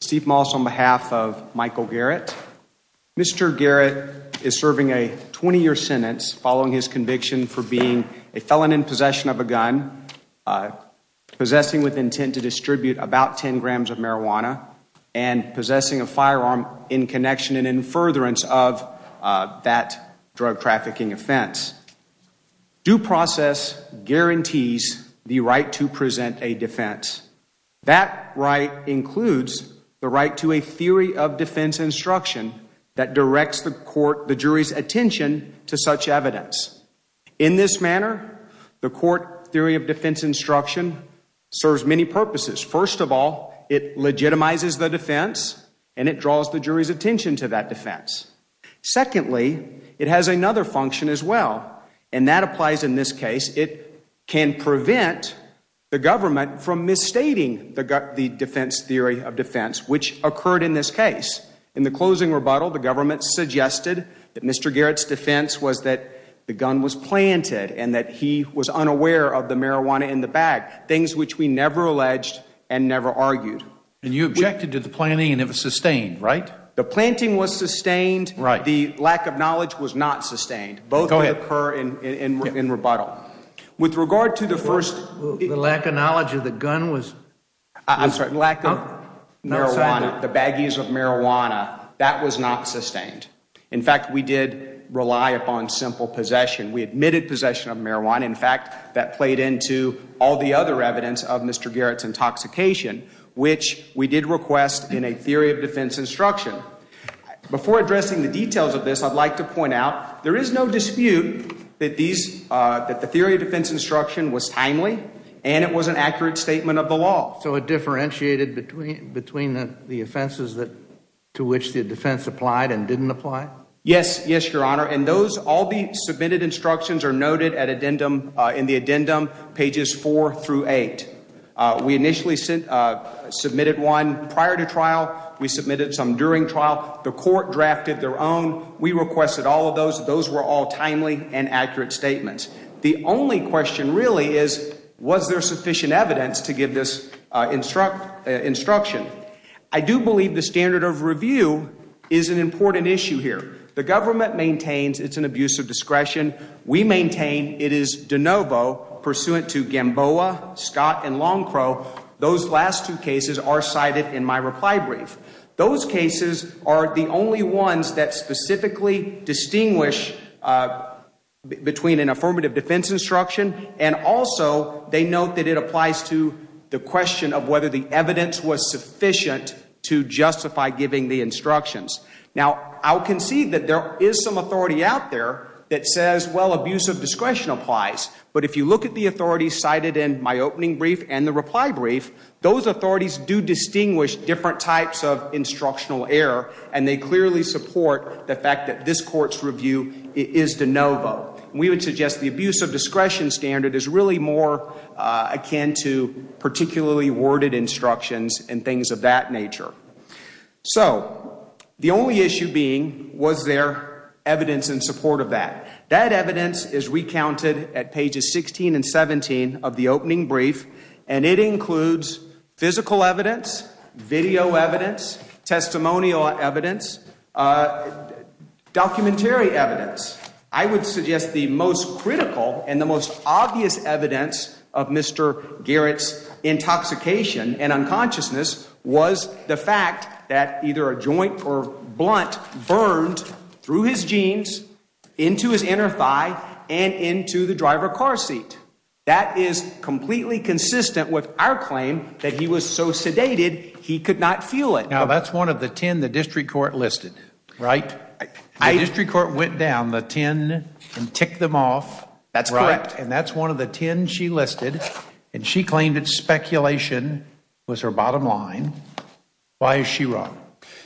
Steve Moss on behalf of Michael Garrett. Mr. Garrett is serving a 20-year sentence following his conviction for being a felon in possession of a gun, possessing with intent to distribute about 10 grams of marijuana, and possessing a firearm in connection and in furtherance of that drug trafficking offense. Due process guarantees the right to present a defense. That right includes the right to a theory of defense instruction that directs the court, the jury's attention to such evidence. In this manner, the court theory of defense instruction serves many purposes. First of all, it legitimizes the defense and it draws the jury's attention to that defense. Secondly, it has another function as well, and that applies in this case. It can prevent the defense theory of defense, which occurred in this case. In the closing rebuttal, the government suggested that Mr. Garrett's defense was that the gun was planted and that he was unaware of the marijuana in the bag, things which we never alleged and never argued. And you objected to the planting and it was sustained, right? The planting was sustained. Right. The lack of knowledge was not sustained. Both occur in rebuttal. With regard to the first... I'm sorry. The lack of marijuana, the baggies of marijuana, that was not sustained. In fact, we did rely upon simple possession. We admitted possession of marijuana. In fact, that played into all the other evidence of Mr. Garrett's intoxication, which we did request in a theory of defense instruction. Before addressing the details of this, I'd like to point out there is no dispute that these, that the theory of defense instruction was timely and it was an addendum of the law. So it differentiated between the offenses that, to which the defense applied and didn't apply? Yes. Yes, Your Honor. And those, all the submitted instructions are noted at addendum, in the addendum, pages four through eight. We initially submitted one prior to trial. We submitted some during trial. The court drafted their own. We requested all of those. Those were all timely and accurate statements. The only question really is, was there sufficient evidence to give this instruct, instruction? I do believe the standard of review is an important issue here. The government maintains it's an abuse of discretion. We maintain it is de novo pursuant to Gamboa, Scott, and Longcrow. Those last two cases are cited in my reply brief. Those cases are the only ones that specifically distinguish between an abuse of discretion. And also, they note that it applies to the question of whether the evidence was sufficient to justify giving the instructions. Now, I'll concede that there is some authority out there that says, well, abuse of discretion applies. But if you look at the authority cited in my opening brief and the reply brief, those authorities do distinguish different types of instructional error and they clearly support the fact that this court's review is de novo. We would suggest the abuse of discretion standard is really more akin to particularly worded instructions and things of that nature. So, the only issue being, was there evidence in support of that? That evidence is recounted at pages 16 and 17 of the opening brief and it includes physical evidence, video evidence, testimonial evidence, documentary evidence. I would suggest the most critical and the most obvious evidence of Mr. Garrett's intoxication and unconsciousness was the fact that either a joint or blunt burned through his jeans, into his inner thigh, and into the driver car seat. That is completely consistent with our claim that he was so sedated, he could not feel it. Now, that's one of the 10 the district court listed, right? The district court went down the 10 and ticked them off. That's correct. And that's one of the 10 she listed and she claimed it's speculation was her bottom line. Why is she wrong?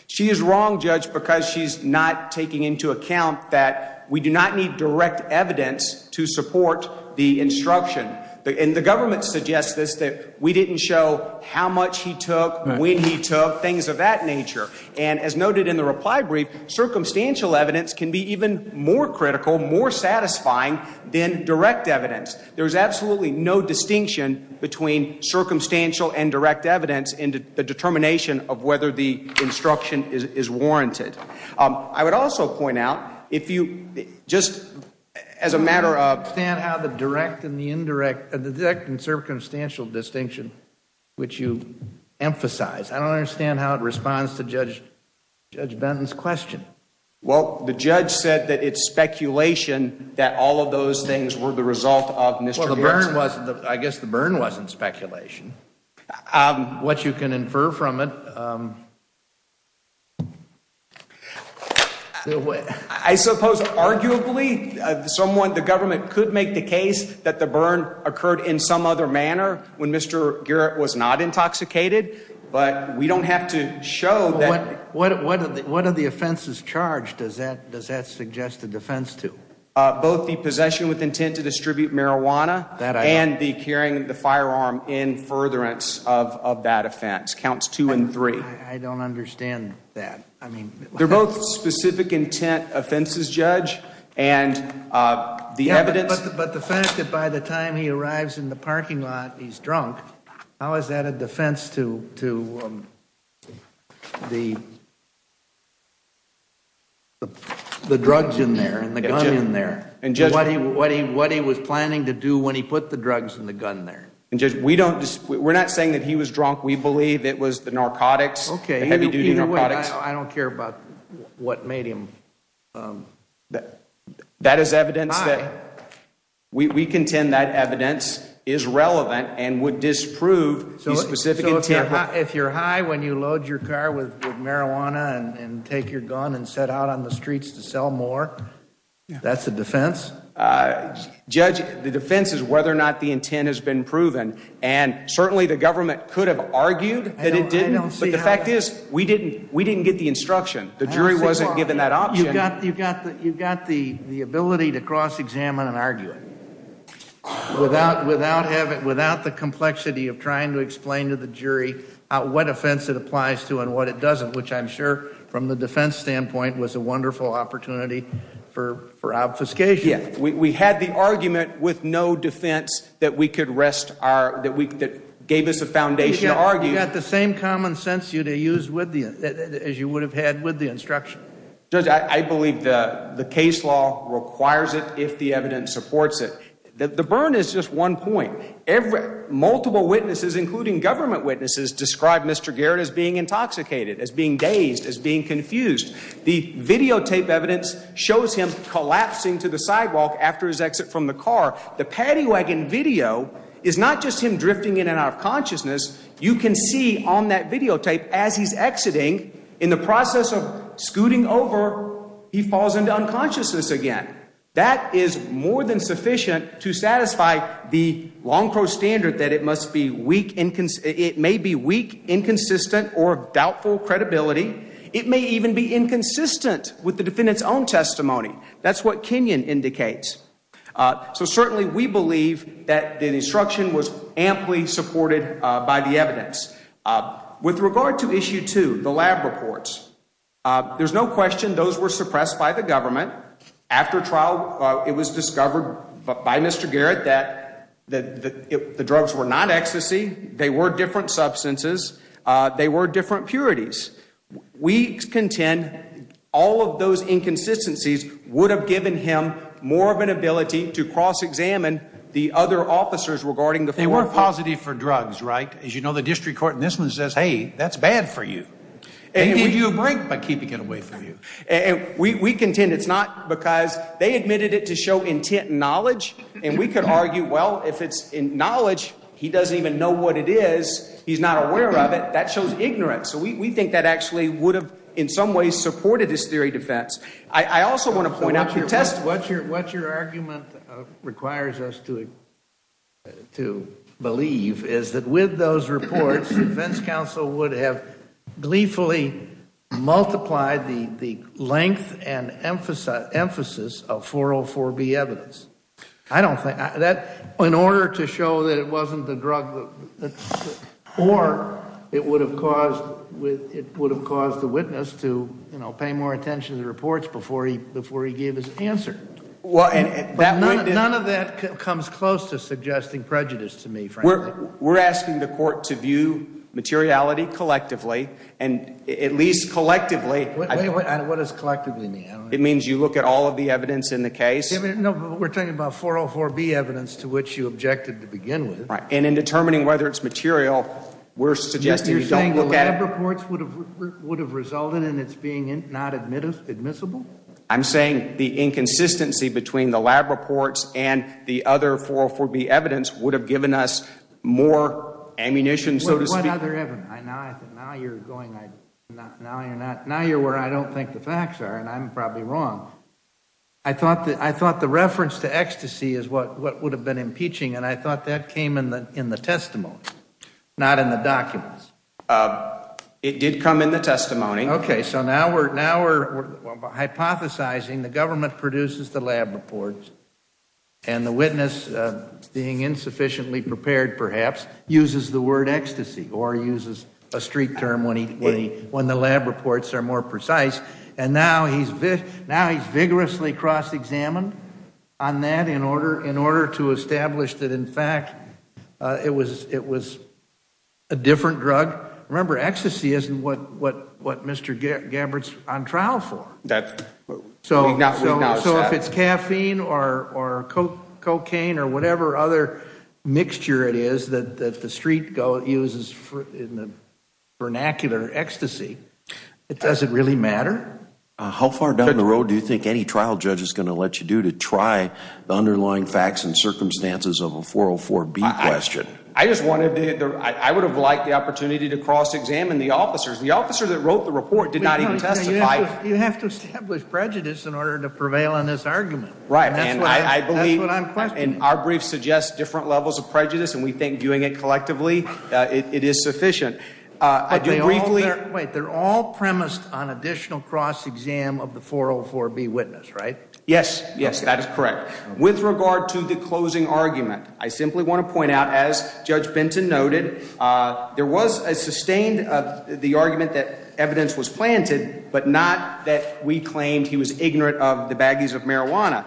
She is wrong, Judge, because she's not taking into account that we do not need direct evidence to support the instruction. And the government suggests this, that we didn't show how much he took, when he took, things of that nature. And as noted in the reply brief, circumstantial evidence can be even more critical, more satisfying than direct evidence. There's absolutely no distinction between circumstantial and direct evidence in the determination of as a matter of direct and the indirect, the direct and circumstantial distinction, which you emphasize. I don't understand how it responds to Judge Judge Benton's question. Well, the judge said that it's speculation that all of those things were the result of Mr. Burns. I guess the burn wasn't speculation. Um, what you can infer from it. Um, I suppose arguably someone, the government could make the case that the burn occurred in some other manner when Mr Garrett was not intoxicated. But we don't have to show that. What are the offenses charged? Does that does that suggest the defense to both the possession with intent to distribute marijuana and the carrying the firearm in furtherance of of that offense counts two and three. I don't understand that. I mean, they're both specific intent offenses, Judge. And, uh, the evidence. But the fact that by the time he arrives in the parking lot, he's drunk. How is that a defense to to the the drugs in there and the gun in there and just what he what he what he was planning to do when he put the drugs in the gun there and just we don't we're not saying that he was drunk. We believe it was the narcotics. Okay, heavy duty narcotics. I don't care about what made him. Um, that that is evidence that we contend that evidence is relevant and would disprove. So take your gun and set out on the streets to sell more. That's the defense. Uh, Judge, the defense is whether or not the intent has been proven. And certainly the government could have argued that it didn't. But the fact is, we didn't. We didn't get the instruction. The jury wasn't given that option. You've got you've got you've got the ability to cross examine and argue it without without having without the complexity of trying to explain to the from the defense standpoint was a wonderful opportunity for for obfuscation. We had the argument with no defense that we could rest are that we gave us a foundation to argue that the same common sense you to use with the as you would have had with the instruction. Judge, I believe the case law requires it. If the evidence supports it, the burn is just one point. Every multiple witnesses, including government witnesses, described Mr Garrett as being intoxicated, as being dazed, as being confused. The videotape evidence shows him collapsing to the sidewalk after his exit from the car. The paddy wagon video is not just him drifting in and out of consciousness. You can see on that videotape as he's exiting in the process of scooting over, he falls into unconsciousness again. That is more than sufficient to satisfy the long crow standard that it must be weak. It may be weak, inconsistent or doubtful credibility. It may even be inconsistent with the defendant's own testimony. That's what Kenyon indicates. So certainly we believe that the instruction was amply supported by the evidence with regard to issue to the lab reports. There's no question those were suppressed by the government after trial. It was discovered by Mr Garrett that the drugs were not ecstasy. They were different substances. They were different purities. We contend all of those inconsistencies would have given him more of an ability to cross examine the other officers regarding the forward positive for drugs, right? As you know, the district court in this one says, Hey, that's bad for you. And if you break by keeping it away from you and we contend it's not because they admitted it to show intent knowledge. And we could argue, well, if it's in knowledge, he doesn't even know what it is. He's not aware of it. That shows ignorance. So we think that actually would have in some ways supported this theory defense. I also want to point out your test. What's your what's your argument requires us to to believe is that with those reports, defense counsel would have gleefully multiplied the length and emphasis of 404 B evidence. I don't think that in order to show that it wasn't the drug or it would have caused with it would have caused the witness to pay more attention to reports before he before he gave his answer. Well, and none of that comes close to suggesting prejudice to me. We're asking the court to view materiality collectively and at least collectively. What does collectively mean? It means you look at all of the evidence in the case. We're talking about 404 B evidence to which you objected to begin with. And in determining whether it's material we're suggesting you don't look at reports would have would have resulted in its being not admittance admissible. I'm saying the inconsistency between the lab reports and the other 404 B evidence would have given us more ammunition. So what other evidence? Now you're going. Now you're not. Now you're where I don't think the facts are, and I'm probably wrong. I thought that I thought the reference to ecstasy is what would have been impeaching. And I thought that came in the in the testimony, not in the documents. It did come in the testimony. Okay, so now we're now we're hypothesizing the government produces the lab reports and the witness being insufficiently perhaps uses the word ecstasy or uses a street term when he when the lab reports are more precise. And now he's now he's vigorously cross examined on that in order in order to establish that, in fact, it was it was a different drug. Remember, ecstasy isn't what what what Mr. Gabbard's on trial for that. So if it's caffeine or or cocaine or whatever other mixture it is that the street uses in the vernacular ecstasy, it doesn't really matter. How far down the road do you think any trial judge is going to let you do to try the underlying facts and circumstances of a 404 B question? I just wanted to I would have liked the opportunity to cross examine the officers. The officer that prejudice in order to prevail on this argument, right? And I believe in our brief suggests different levels of prejudice, and we think doing it collectively it is sufficient. I do briefly wait. They're all premised on additional cross exam of the 404 B witness, right? Yes. Yes, that is correct. With regard to the closing argument, I simply want to point out, as Judge Benton noted, there was a sustained of the argument that evidence was planted, but not that we claimed he was ignorant of the baggies of marijuana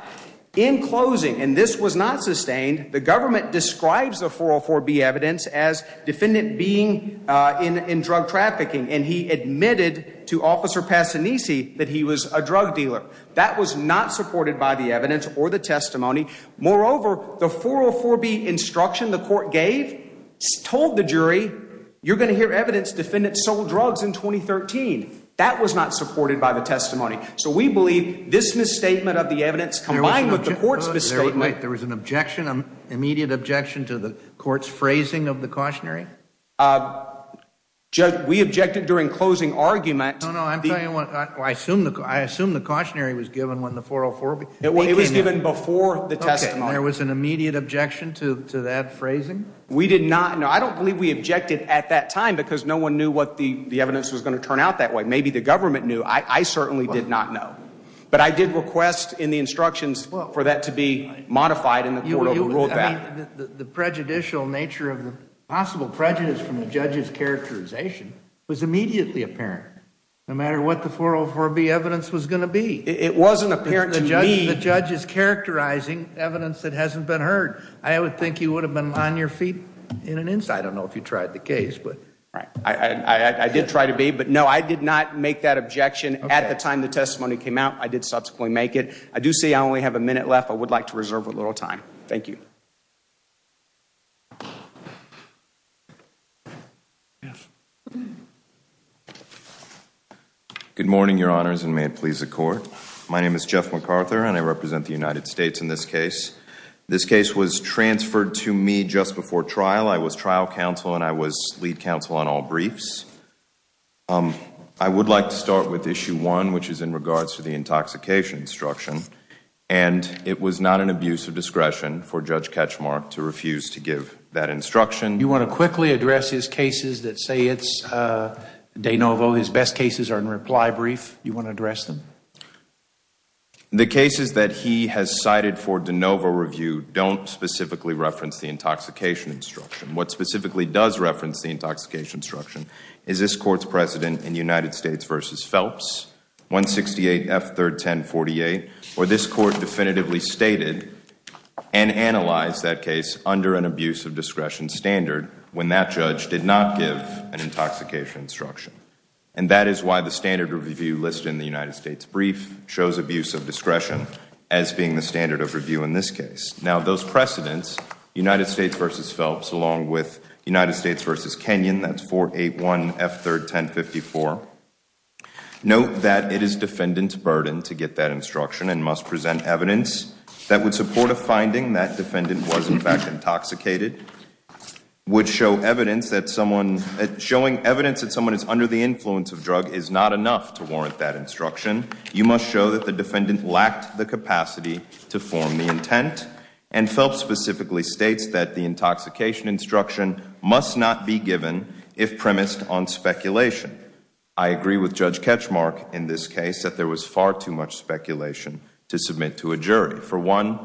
in closing, and this was not sustained. The government describes the 404 B evidence as defendant being in in drug trafficking, and he admitted to Officer Passanisi that he was a drug dealer. That was not supported by the evidence or the testimony. Moreover, the 404 B instruction the court gave told the jury you're gonna hear evidence. Defendants sold drugs in 2013. That was not supported by the testimony. So we believe this misstatement of the evidence combined with the court's misstatement, there was an objection, an immediate objection to the court's phrasing of the cautionary. Uh, we objected during closing argument. No, no, I'm telling you what I assume. I assume the cautionary was given when the 404 it was given before the testimony. There was an immediate objection to that phrasing. We did not. No, I don't believe we objected at that time because no one knew what the evidence was going to turn out that way. Maybe the government knew. I certainly did not know. But I did request in the instructions for that to be modified in the court overruled that the prejudicial nature of the possible prejudice from the judge's characterization was immediately apparent no matter what the 404 B evidence was gonna be. It wasn't apparent to me. The judge is characterizing evidence that hasn't been heard. I would think you would have been on your feet in an inside. I don't know if you tried the case, but I did try to be. But no, I did not make that objection at the time the testimony came out. I did subsequently make it. I do see I only have a minute left. I would like to reserve a little time. Thank you. Yes. Good morning, Your Honors. And may it please the court. My name is Jeff MacArthur, and I represent the United States. In this case, this case was transferred to me just before trial. I was trial counsel and I was lead counsel on all briefs. Um, I would like to start with issue one, which is in regards to the intoxication instruction, and it was not an abuse of discretion for Judge Ketchmark to refuse to give that instruction. You want to quickly address his cases that say it's, uh, de novo. His best cases are in reply brief. You want to address them? Okay. The cases that he has cited for de novo review don't specifically reference the intoxication instruction. What specifically does reference the intoxication instruction is this court's precedent in United States versus Phelps, 168 F. 3rd 1048, where this court definitively stated and analyzed that case under an abuse of discretion standard when that judge did not give an intoxication instruction. And that is why the standard review listed in the United States brief shows abuse of discretion as being the standard of review in this case. Now those precedents, United States versus Phelps, along with United States versus Kenyon, that's 481 F. 3rd 1054. Note that it is defendant's burden to get that instruction and must present evidence that would support a finding that defendant was in fact intoxicated, would show evidence that someone, showing evidence that someone is under the influence of drug is not enough to warrant that instruction. You must show that the defendant lacked the capacity to form the intent and Phelps specifically states that the intoxication instruction must not be given if premised on speculation. I agree with Judge Ketchmark in this case that there was far too much speculation to submit to a jury. For one,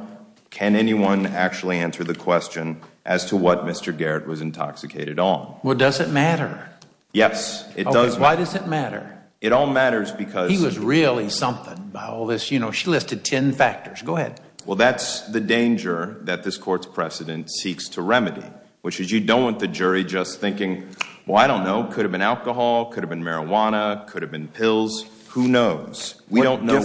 can anyone actually answer the question as to what Mr. Garrett was intoxicated on? Well, does it matter? Yes, it does. Why does it all matter? He was really something by all this, you know, she listed ten factors. Go ahead. Well, that's the danger that this court's precedent seeks to remedy, which is you don't want the jury just thinking, well, I don't know, could have been alcohol, could have been marijuana, could have been pills. Who knows? We don't know.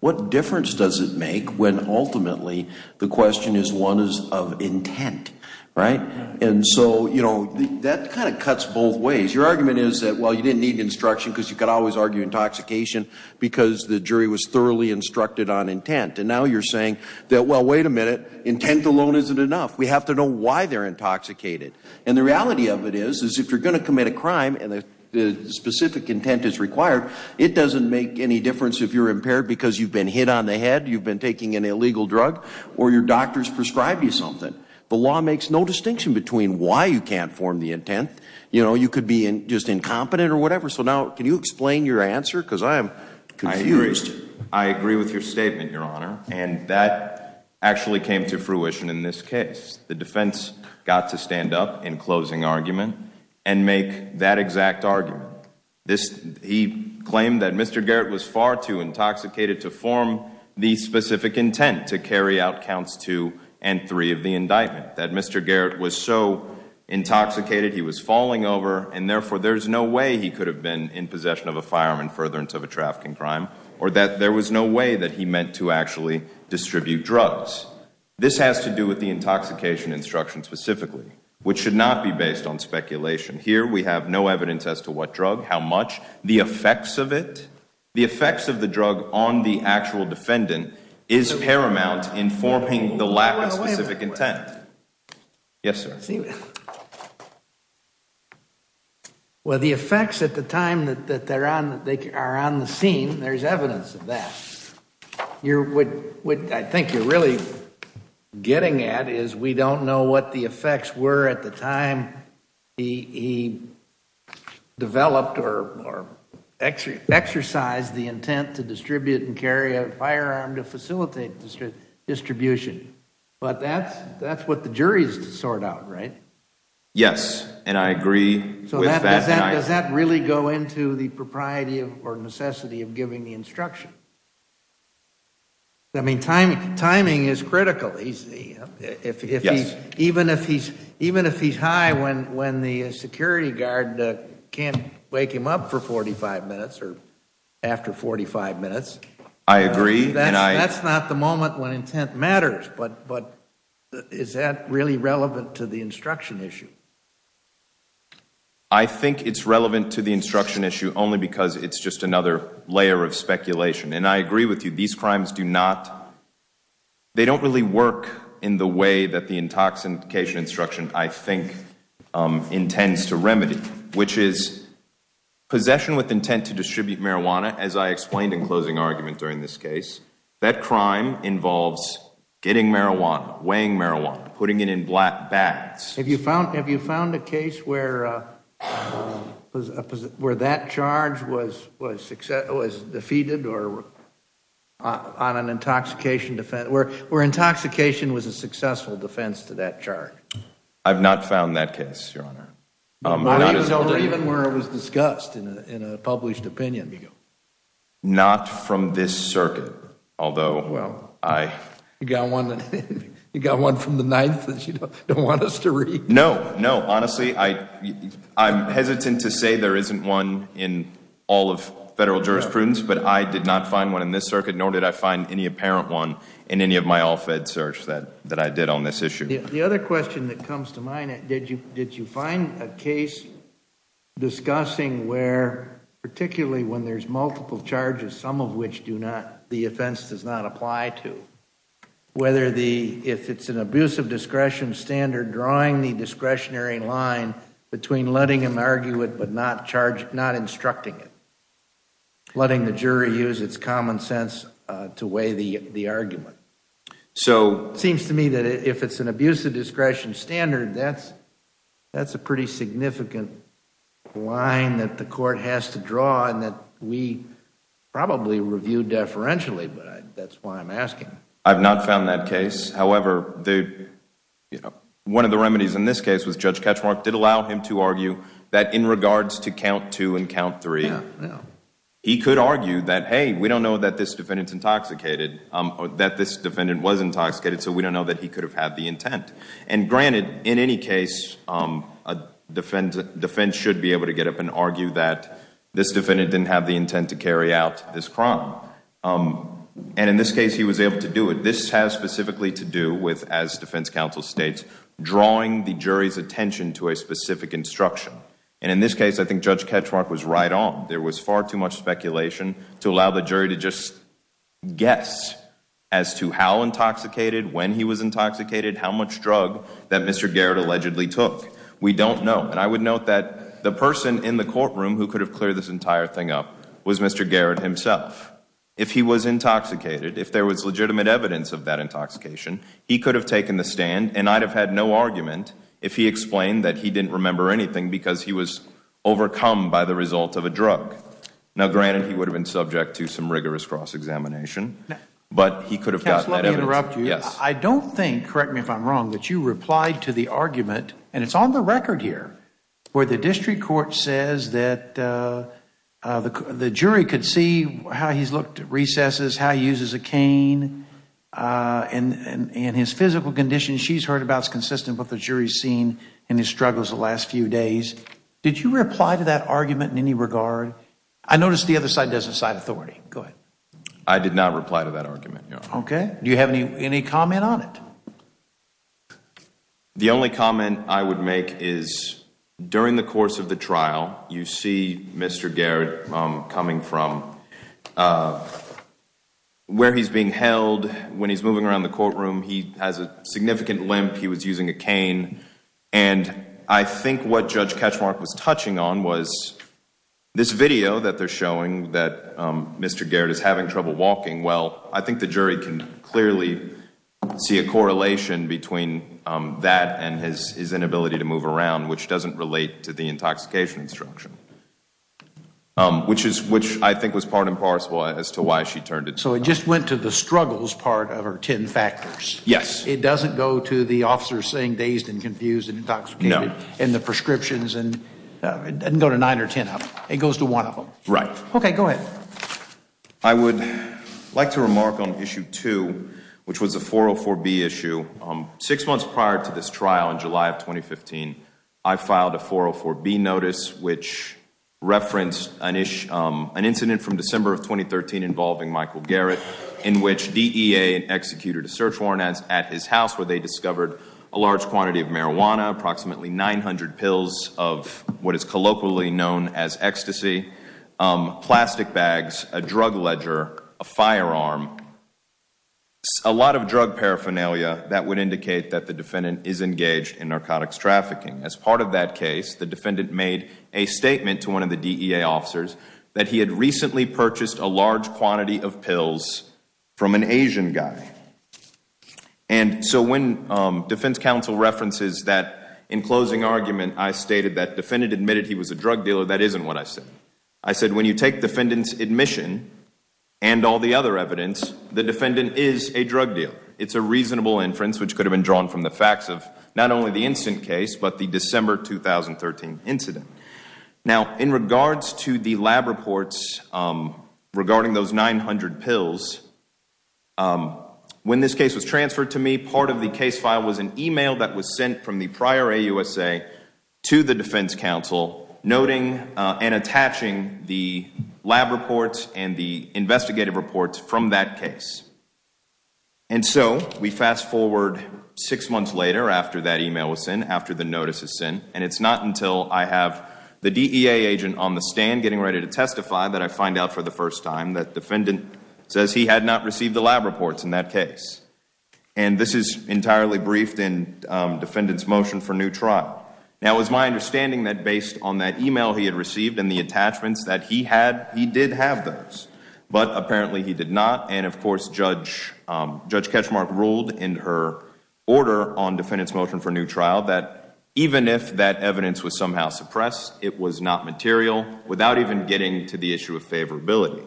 What difference does it make when ultimately the question is one is of intent, right? And so, you know, that kind of cuts both ways. Your argument is that, well, you didn't need instruction because you could always argue intoxication because the jury was thoroughly instructed on intent. And now you're saying that, well, wait a minute, intent alone isn't enough. We have to know why they're intoxicated. And the reality of it is, is if you're going to commit a crime and the specific intent is required, it doesn't make any difference if you're impaired because you've been hit on the head, you've been taking an illegal drug, or your doctors prescribed you something. The law makes no distinction between why you can't form the intent, you know, you could be just incompetent or whatever. So now, can you explain your answer? Because I am confused. I agree with your statement, Your Honor. And that actually came to fruition in this case. The defense got to stand up in closing argument and make that exact argument. He claimed that Mr. Garrett was far too intoxicated to form the specific intent to carry out counts two and three of the indictment. That Mr. Garrett was so intoxicated he was falling over, and therefore there's no way he could have been in possession of a firearm in furtherance of a trafficking crime, or that there was no way that he meant to actually distribute drugs. This has to do with the intoxication instruction specifically, which should not be based on speculation. Here we have no evidence as to what drug, how much, the effects of it. The effects of the drug on the actual defendant is paramount in forming the lack of specific intent. Yes, sir. Well, the effects at the time that they're on, that they are on the scene, there's evidence of that. What I think you're really getting at is we don't know what the effects were at the time he developed or exercised the intent to distribute and carry a firearm to facilitate distribution, but that's what the jury's to sort out, right? Yes, and I agree with that. Does that really go into the propriety or necessity of giving the instruction? I mean, timing is critical. Even if he's high when the security guard can't wake him up for 45 minutes or after 45 minutes. I agree. That's not the moment when intent matters, but is that really relevant to the instruction issue? I think it's relevant to the instruction issue only because it's just another layer of speculation, and I agree with you. These crimes do not, they don't really work in the way that the intoxication instruction, I think, intends to remedy, which is possession with intent to distribute marijuana. As I explained in closing argument during this case, that crime involves getting marijuana, weighing marijuana, putting it in black bags. Have you found a case where that charge was defeated or on an intoxication defense, where intoxication was a successful defense to that charge? I've not found that case, Your Honor. Not even where it was discussed in a published opinion? Not from this circuit, although, well. You got one from the ninth that you don't want us to read. No, no, honestly, I'm hesitant to say there isn't one in all of federal jurisprudence, but I did not find one in this circuit, nor did I find any apparent one in any of my all-fed search that I did on this case. Did you find a case discussing where, particularly when there's multiple charges, some of which do not, the offense does not apply to, whether the, if it's an abuse of discretion standard, drawing the discretionary line between letting him argue it but not charge, not instructing it, letting the jury use its common sense to weigh the argument. So, it seems to me that if it's an abuse of discretion standard, that's a pretty significant line that the court has to draw and that we probably review deferentially, but that's why I'm asking. I've not found that case. However, the, you know, one of the remedies in this case was Judge Ketchmark did allow him to argue that in regards to count two and count three, he could argue that, hey, we don't know that this defendant's intoxicated, or that this defendant was intoxicated, so we don't know that he could have had the intent. And granted, in any case, a defense should be able to get up and argue that this defendant didn't have the intent to carry out this crime. And in this case, he was able to do it. This has specifically to do with, as defense counsel states, drawing the jury's attention to a specific instruction. And in this case, I think Judge Ketchmark was right on. There was far too much speculation to allow the jury to just guess as to how intoxicated, when he was intoxicated, how much drug that Mr. Garrett allegedly took. We don't know. And I would note that the person in the courtroom who could have cleared this entire thing up was Mr. Garrett himself. If he was intoxicated, if there was legitimate evidence of that intoxication, he could have taken the stand and I'd have had no argument if he explained that he didn't remember anything because he was overcome by the result of a drug. Now, granted, he would have been subject to some rigorous cross-examination, but he could have gotten that evidence. I don't think, correct me if I'm wrong, that you replied to the argument, and it's on the record here, where the district court says that the jury could see how he's looked at recesses, how he uses a cane, and his physical condition she's heard about is consistent with what the jury's seen in his struggles the last few days. Did you reply to that argument in any regard? I noticed the other side doesn't cite authority. Go ahead. I did not reply to that argument, no. Okay. Do you have any comment on it? The only comment I would make is, during the course of the trial, you see Mr. Garrett coming from where he's being held, when he's moving around the courtroom, he has a significant limp, he was using a cane, and I think what Judge Katchmark was touching on was this video that they're showing that Mr. Garrett, the jury, can clearly see a correlation between that and his inability to move around, which doesn't relate to the intoxication instruction, which I think was part and parcel as to why she turned it down. So it just went to the struggles part of her ten factors? Yes. It doesn't go to the officers saying dazed and confused and intoxicated, and the prescriptions, and it doesn't go to nine or ten of them, it goes to one of them? Right. Okay, go ahead. I would like to remark on issue two, which was a 404B issue. Six months prior to this trial in July of 2015, I filed a 404B notice which referenced an incident from December of 2013 involving Michael Garrett, in which DEA executed a search warrant at his house where they discovered a large quantity of marijuana, approximately 900 pills of what is colloquially known as ecstasy, plastic bags, a drug ledger, a firearm, a lot of drug paraphernalia that would indicate that the defendant is engaged in narcotics trafficking. As part of that case, the defendant made a statement to one of the DEA officers that he had recently purchased a large quantity of pills from an Asian guy. And so when defense counsel references that in closing argument, I stated that defendant admitted he was a drug dealer, that isn't what I said. I said when you take defendant's admission and all the other evidence, the defendant is a drug dealer. It's a reasonable inference which could have been drawn from the facts of not only the instant case, but the December 2013 incident. Now in regards to the lab reports regarding those 900 pills, when this case was transferred to me, part of the case file was an email that was sent from the prior AUSA to the defense counsel noting and attaching the lab reports and the investigative reports from that case. And so we fast forward six months later after that email was sent, after the notice is sent, and it's not until I have the DEA agent on the stand getting ready to testify that I find out for the first time that defendant says he had not received the lab reports in that case. And this is entirely briefed in defendant's motion for new trial. Now it was my understanding that based on that email he had received and the attachments that he had, he did have those. But apparently he did not. And of course Judge Ketchmark ruled in her order on defendant's motion for new trial that even if that evidence was somehow suppressed, it was not material without even getting to the issue of favorability.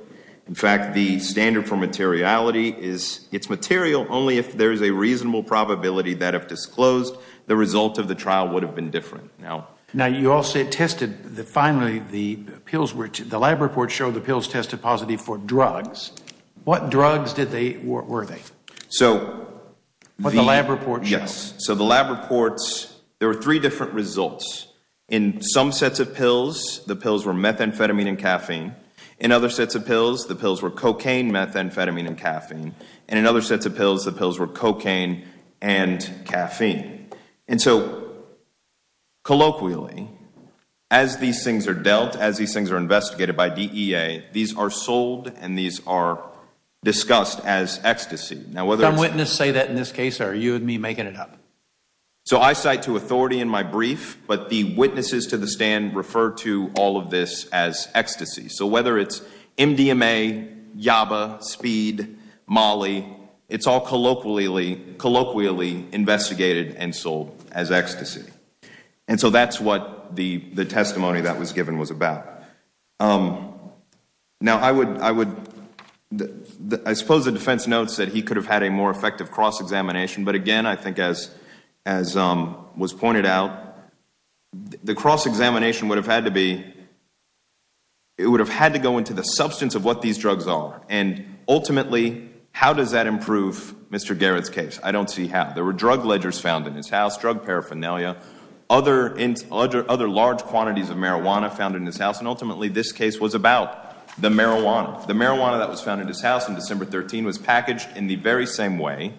In fact, the standard for materiality is it's material only if there is a reasonable probability that disclosed the result of the trial would have been different. Now you all said tested the finally the pills were to the lab report showed the pills tested positive for drugs. What drugs did they, were they? So the lab report, yes, so the lab reports, there were three different results. In some sets of pills, the pills were methamphetamine and caffeine. In other sets of pills, the pills were cocaine, methamphetamine and caffeine. And in other sets of pills, the pills were methamphetamine and caffeine. And so, colloquially, as these things are dealt, as these things are investigated by DEA, these are sold and these are discussed as ecstasy. Some witnesses say that in this case or are you and me making it up? So I cite to authority in my brief, but the witnesses to the stand refer to all of this as ecstasy. So whether it's MDMA, Yaba, Speed, Molly, it's all colloquially investigated and sold as ecstasy. And so that's what the testimony that was given was about. Now I would, I suppose the defense notes that he could have had a more effective cross-examination, but again, I think as was pointed out, the cross-examination would have had to be, it would have had to go into the substance of what these drugs are and ultimately, how does that improve Mr. Garrett's case? I don't see how. There were drug ledgers found in his house, drug paraphernalia, other large quantities of marijuana found in his house, and ultimately this case was about the marijuana. The marijuana that was found in his house in December 13 was packaged in the very same way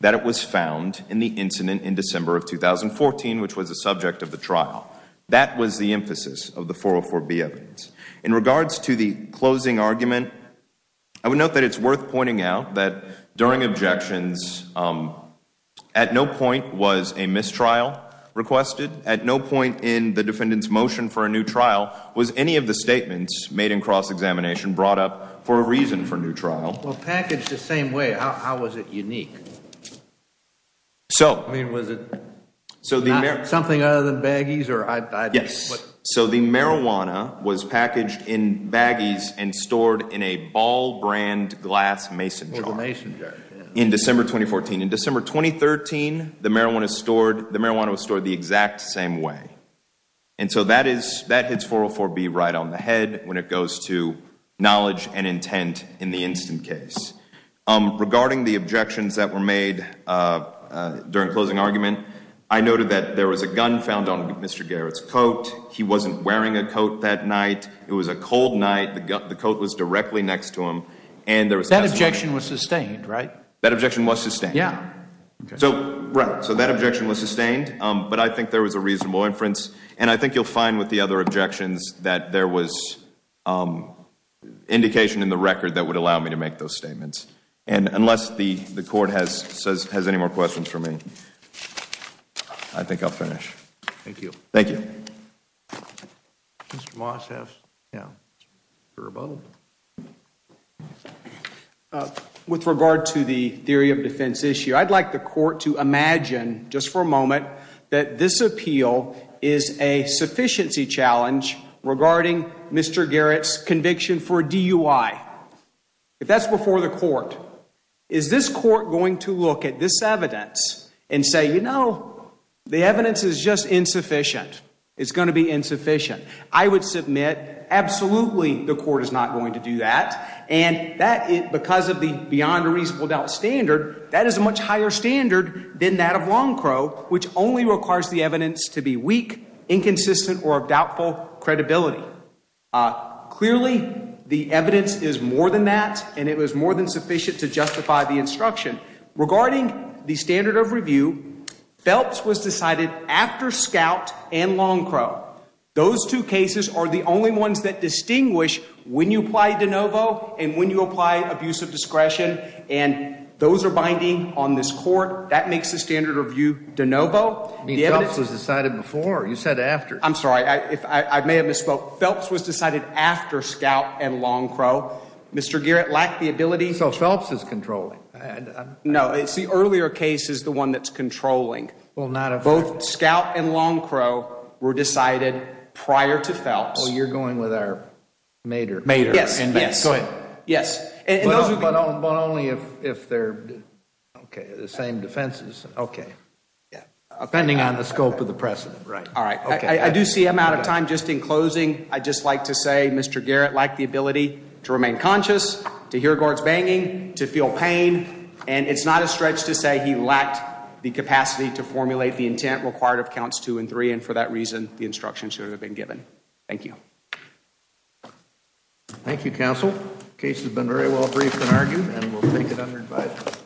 that it was found in the incident in December of 2014, which was a subject of the trial. That was the emphasis of the 404B evidence. In regards to the closing argument, I would note that it's worth pointing out that during objections, at no point was a mistrial requested, at no point in the defendant's motion for a new trial was any of the statements made in cross-examination brought up for a reason for new trial. Well packaged the same way, how was it unique? So, I mean was it something other than marijuana was packaged in baggies and stored in a ball brand glass mason jar in December 2014. In December 2013, the marijuana was stored the exact same way, and so that hits 404B right on the head when it goes to knowledge and intent in the instant case. Regarding the objections that were made during closing argument, I noted that there was a gun found on Mr. Garrett's coat that night. It was a cold night, the coat was directly next to him, and there was... That objection was sustained, right? That objection was sustained. Yeah. So, right, so that objection was sustained, but I think there was a reasonable inference, and I think you'll find with the other objections that there was indication in the record that would allow me to make those statements. And unless the the court has any more questions for me, I think I'll finish. Thank you. Thank you. Mr. Moss, have a rebuttal. With regard to the theory of defense issue, I'd like the court to imagine, just for a moment, that this appeal is a sufficiency challenge regarding Mr. Garrett's conviction for a DUI. If that's before the court, is this court going to look at this evidence and say, you know, the evidence is just insufficient. It's going to be insufficient. I would submit, absolutely, the court is not going to do that, and that, because of the beyond a reasonable doubt standard, that is a much higher standard than that of Longcrow, which only requires the evidence to be weak, inconsistent, or of doubtful credibility. Clearly, the evidence is more than that, and it was more than sufficient to justify the instruction. Regarding the standard of review, Phelps was decided after Scout and Longcrow. Those two cases are the only ones that distinguish when you apply de novo and when you apply abuse of discretion, and those are binding on this court. That makes the standard of review de novo. Phelps was decided before, you said after. I'm sorry, I may have misspoke. Phelps was decided after Scout and Longcrow. Mr. Garrett lacked the ability. So Phelps is controlling. No, it's the earlier case is the one that's controlling. Well, not if. Both Scout and Longcrow were decided prior to Phelps. Well, you're going with our mater. Mater. Yes. Yes. But only if they're, okay, the same defenses. Okay. Yeah. Depending on the scope of the precedent. Right. All right. I do see I'm out of time. Just in closing, I'd just like to say Mr. Garrett lacked the ability to remain conscious, to hear guards banging, to feel pain. And it's not a stretch to say he lacked the capacity to formulate the intent required of counts two and three. And for that reason, the instruction should have been given. Thank you. Thank you, Counsel. Case has been very well briefed and argued, and we'll take it under advice.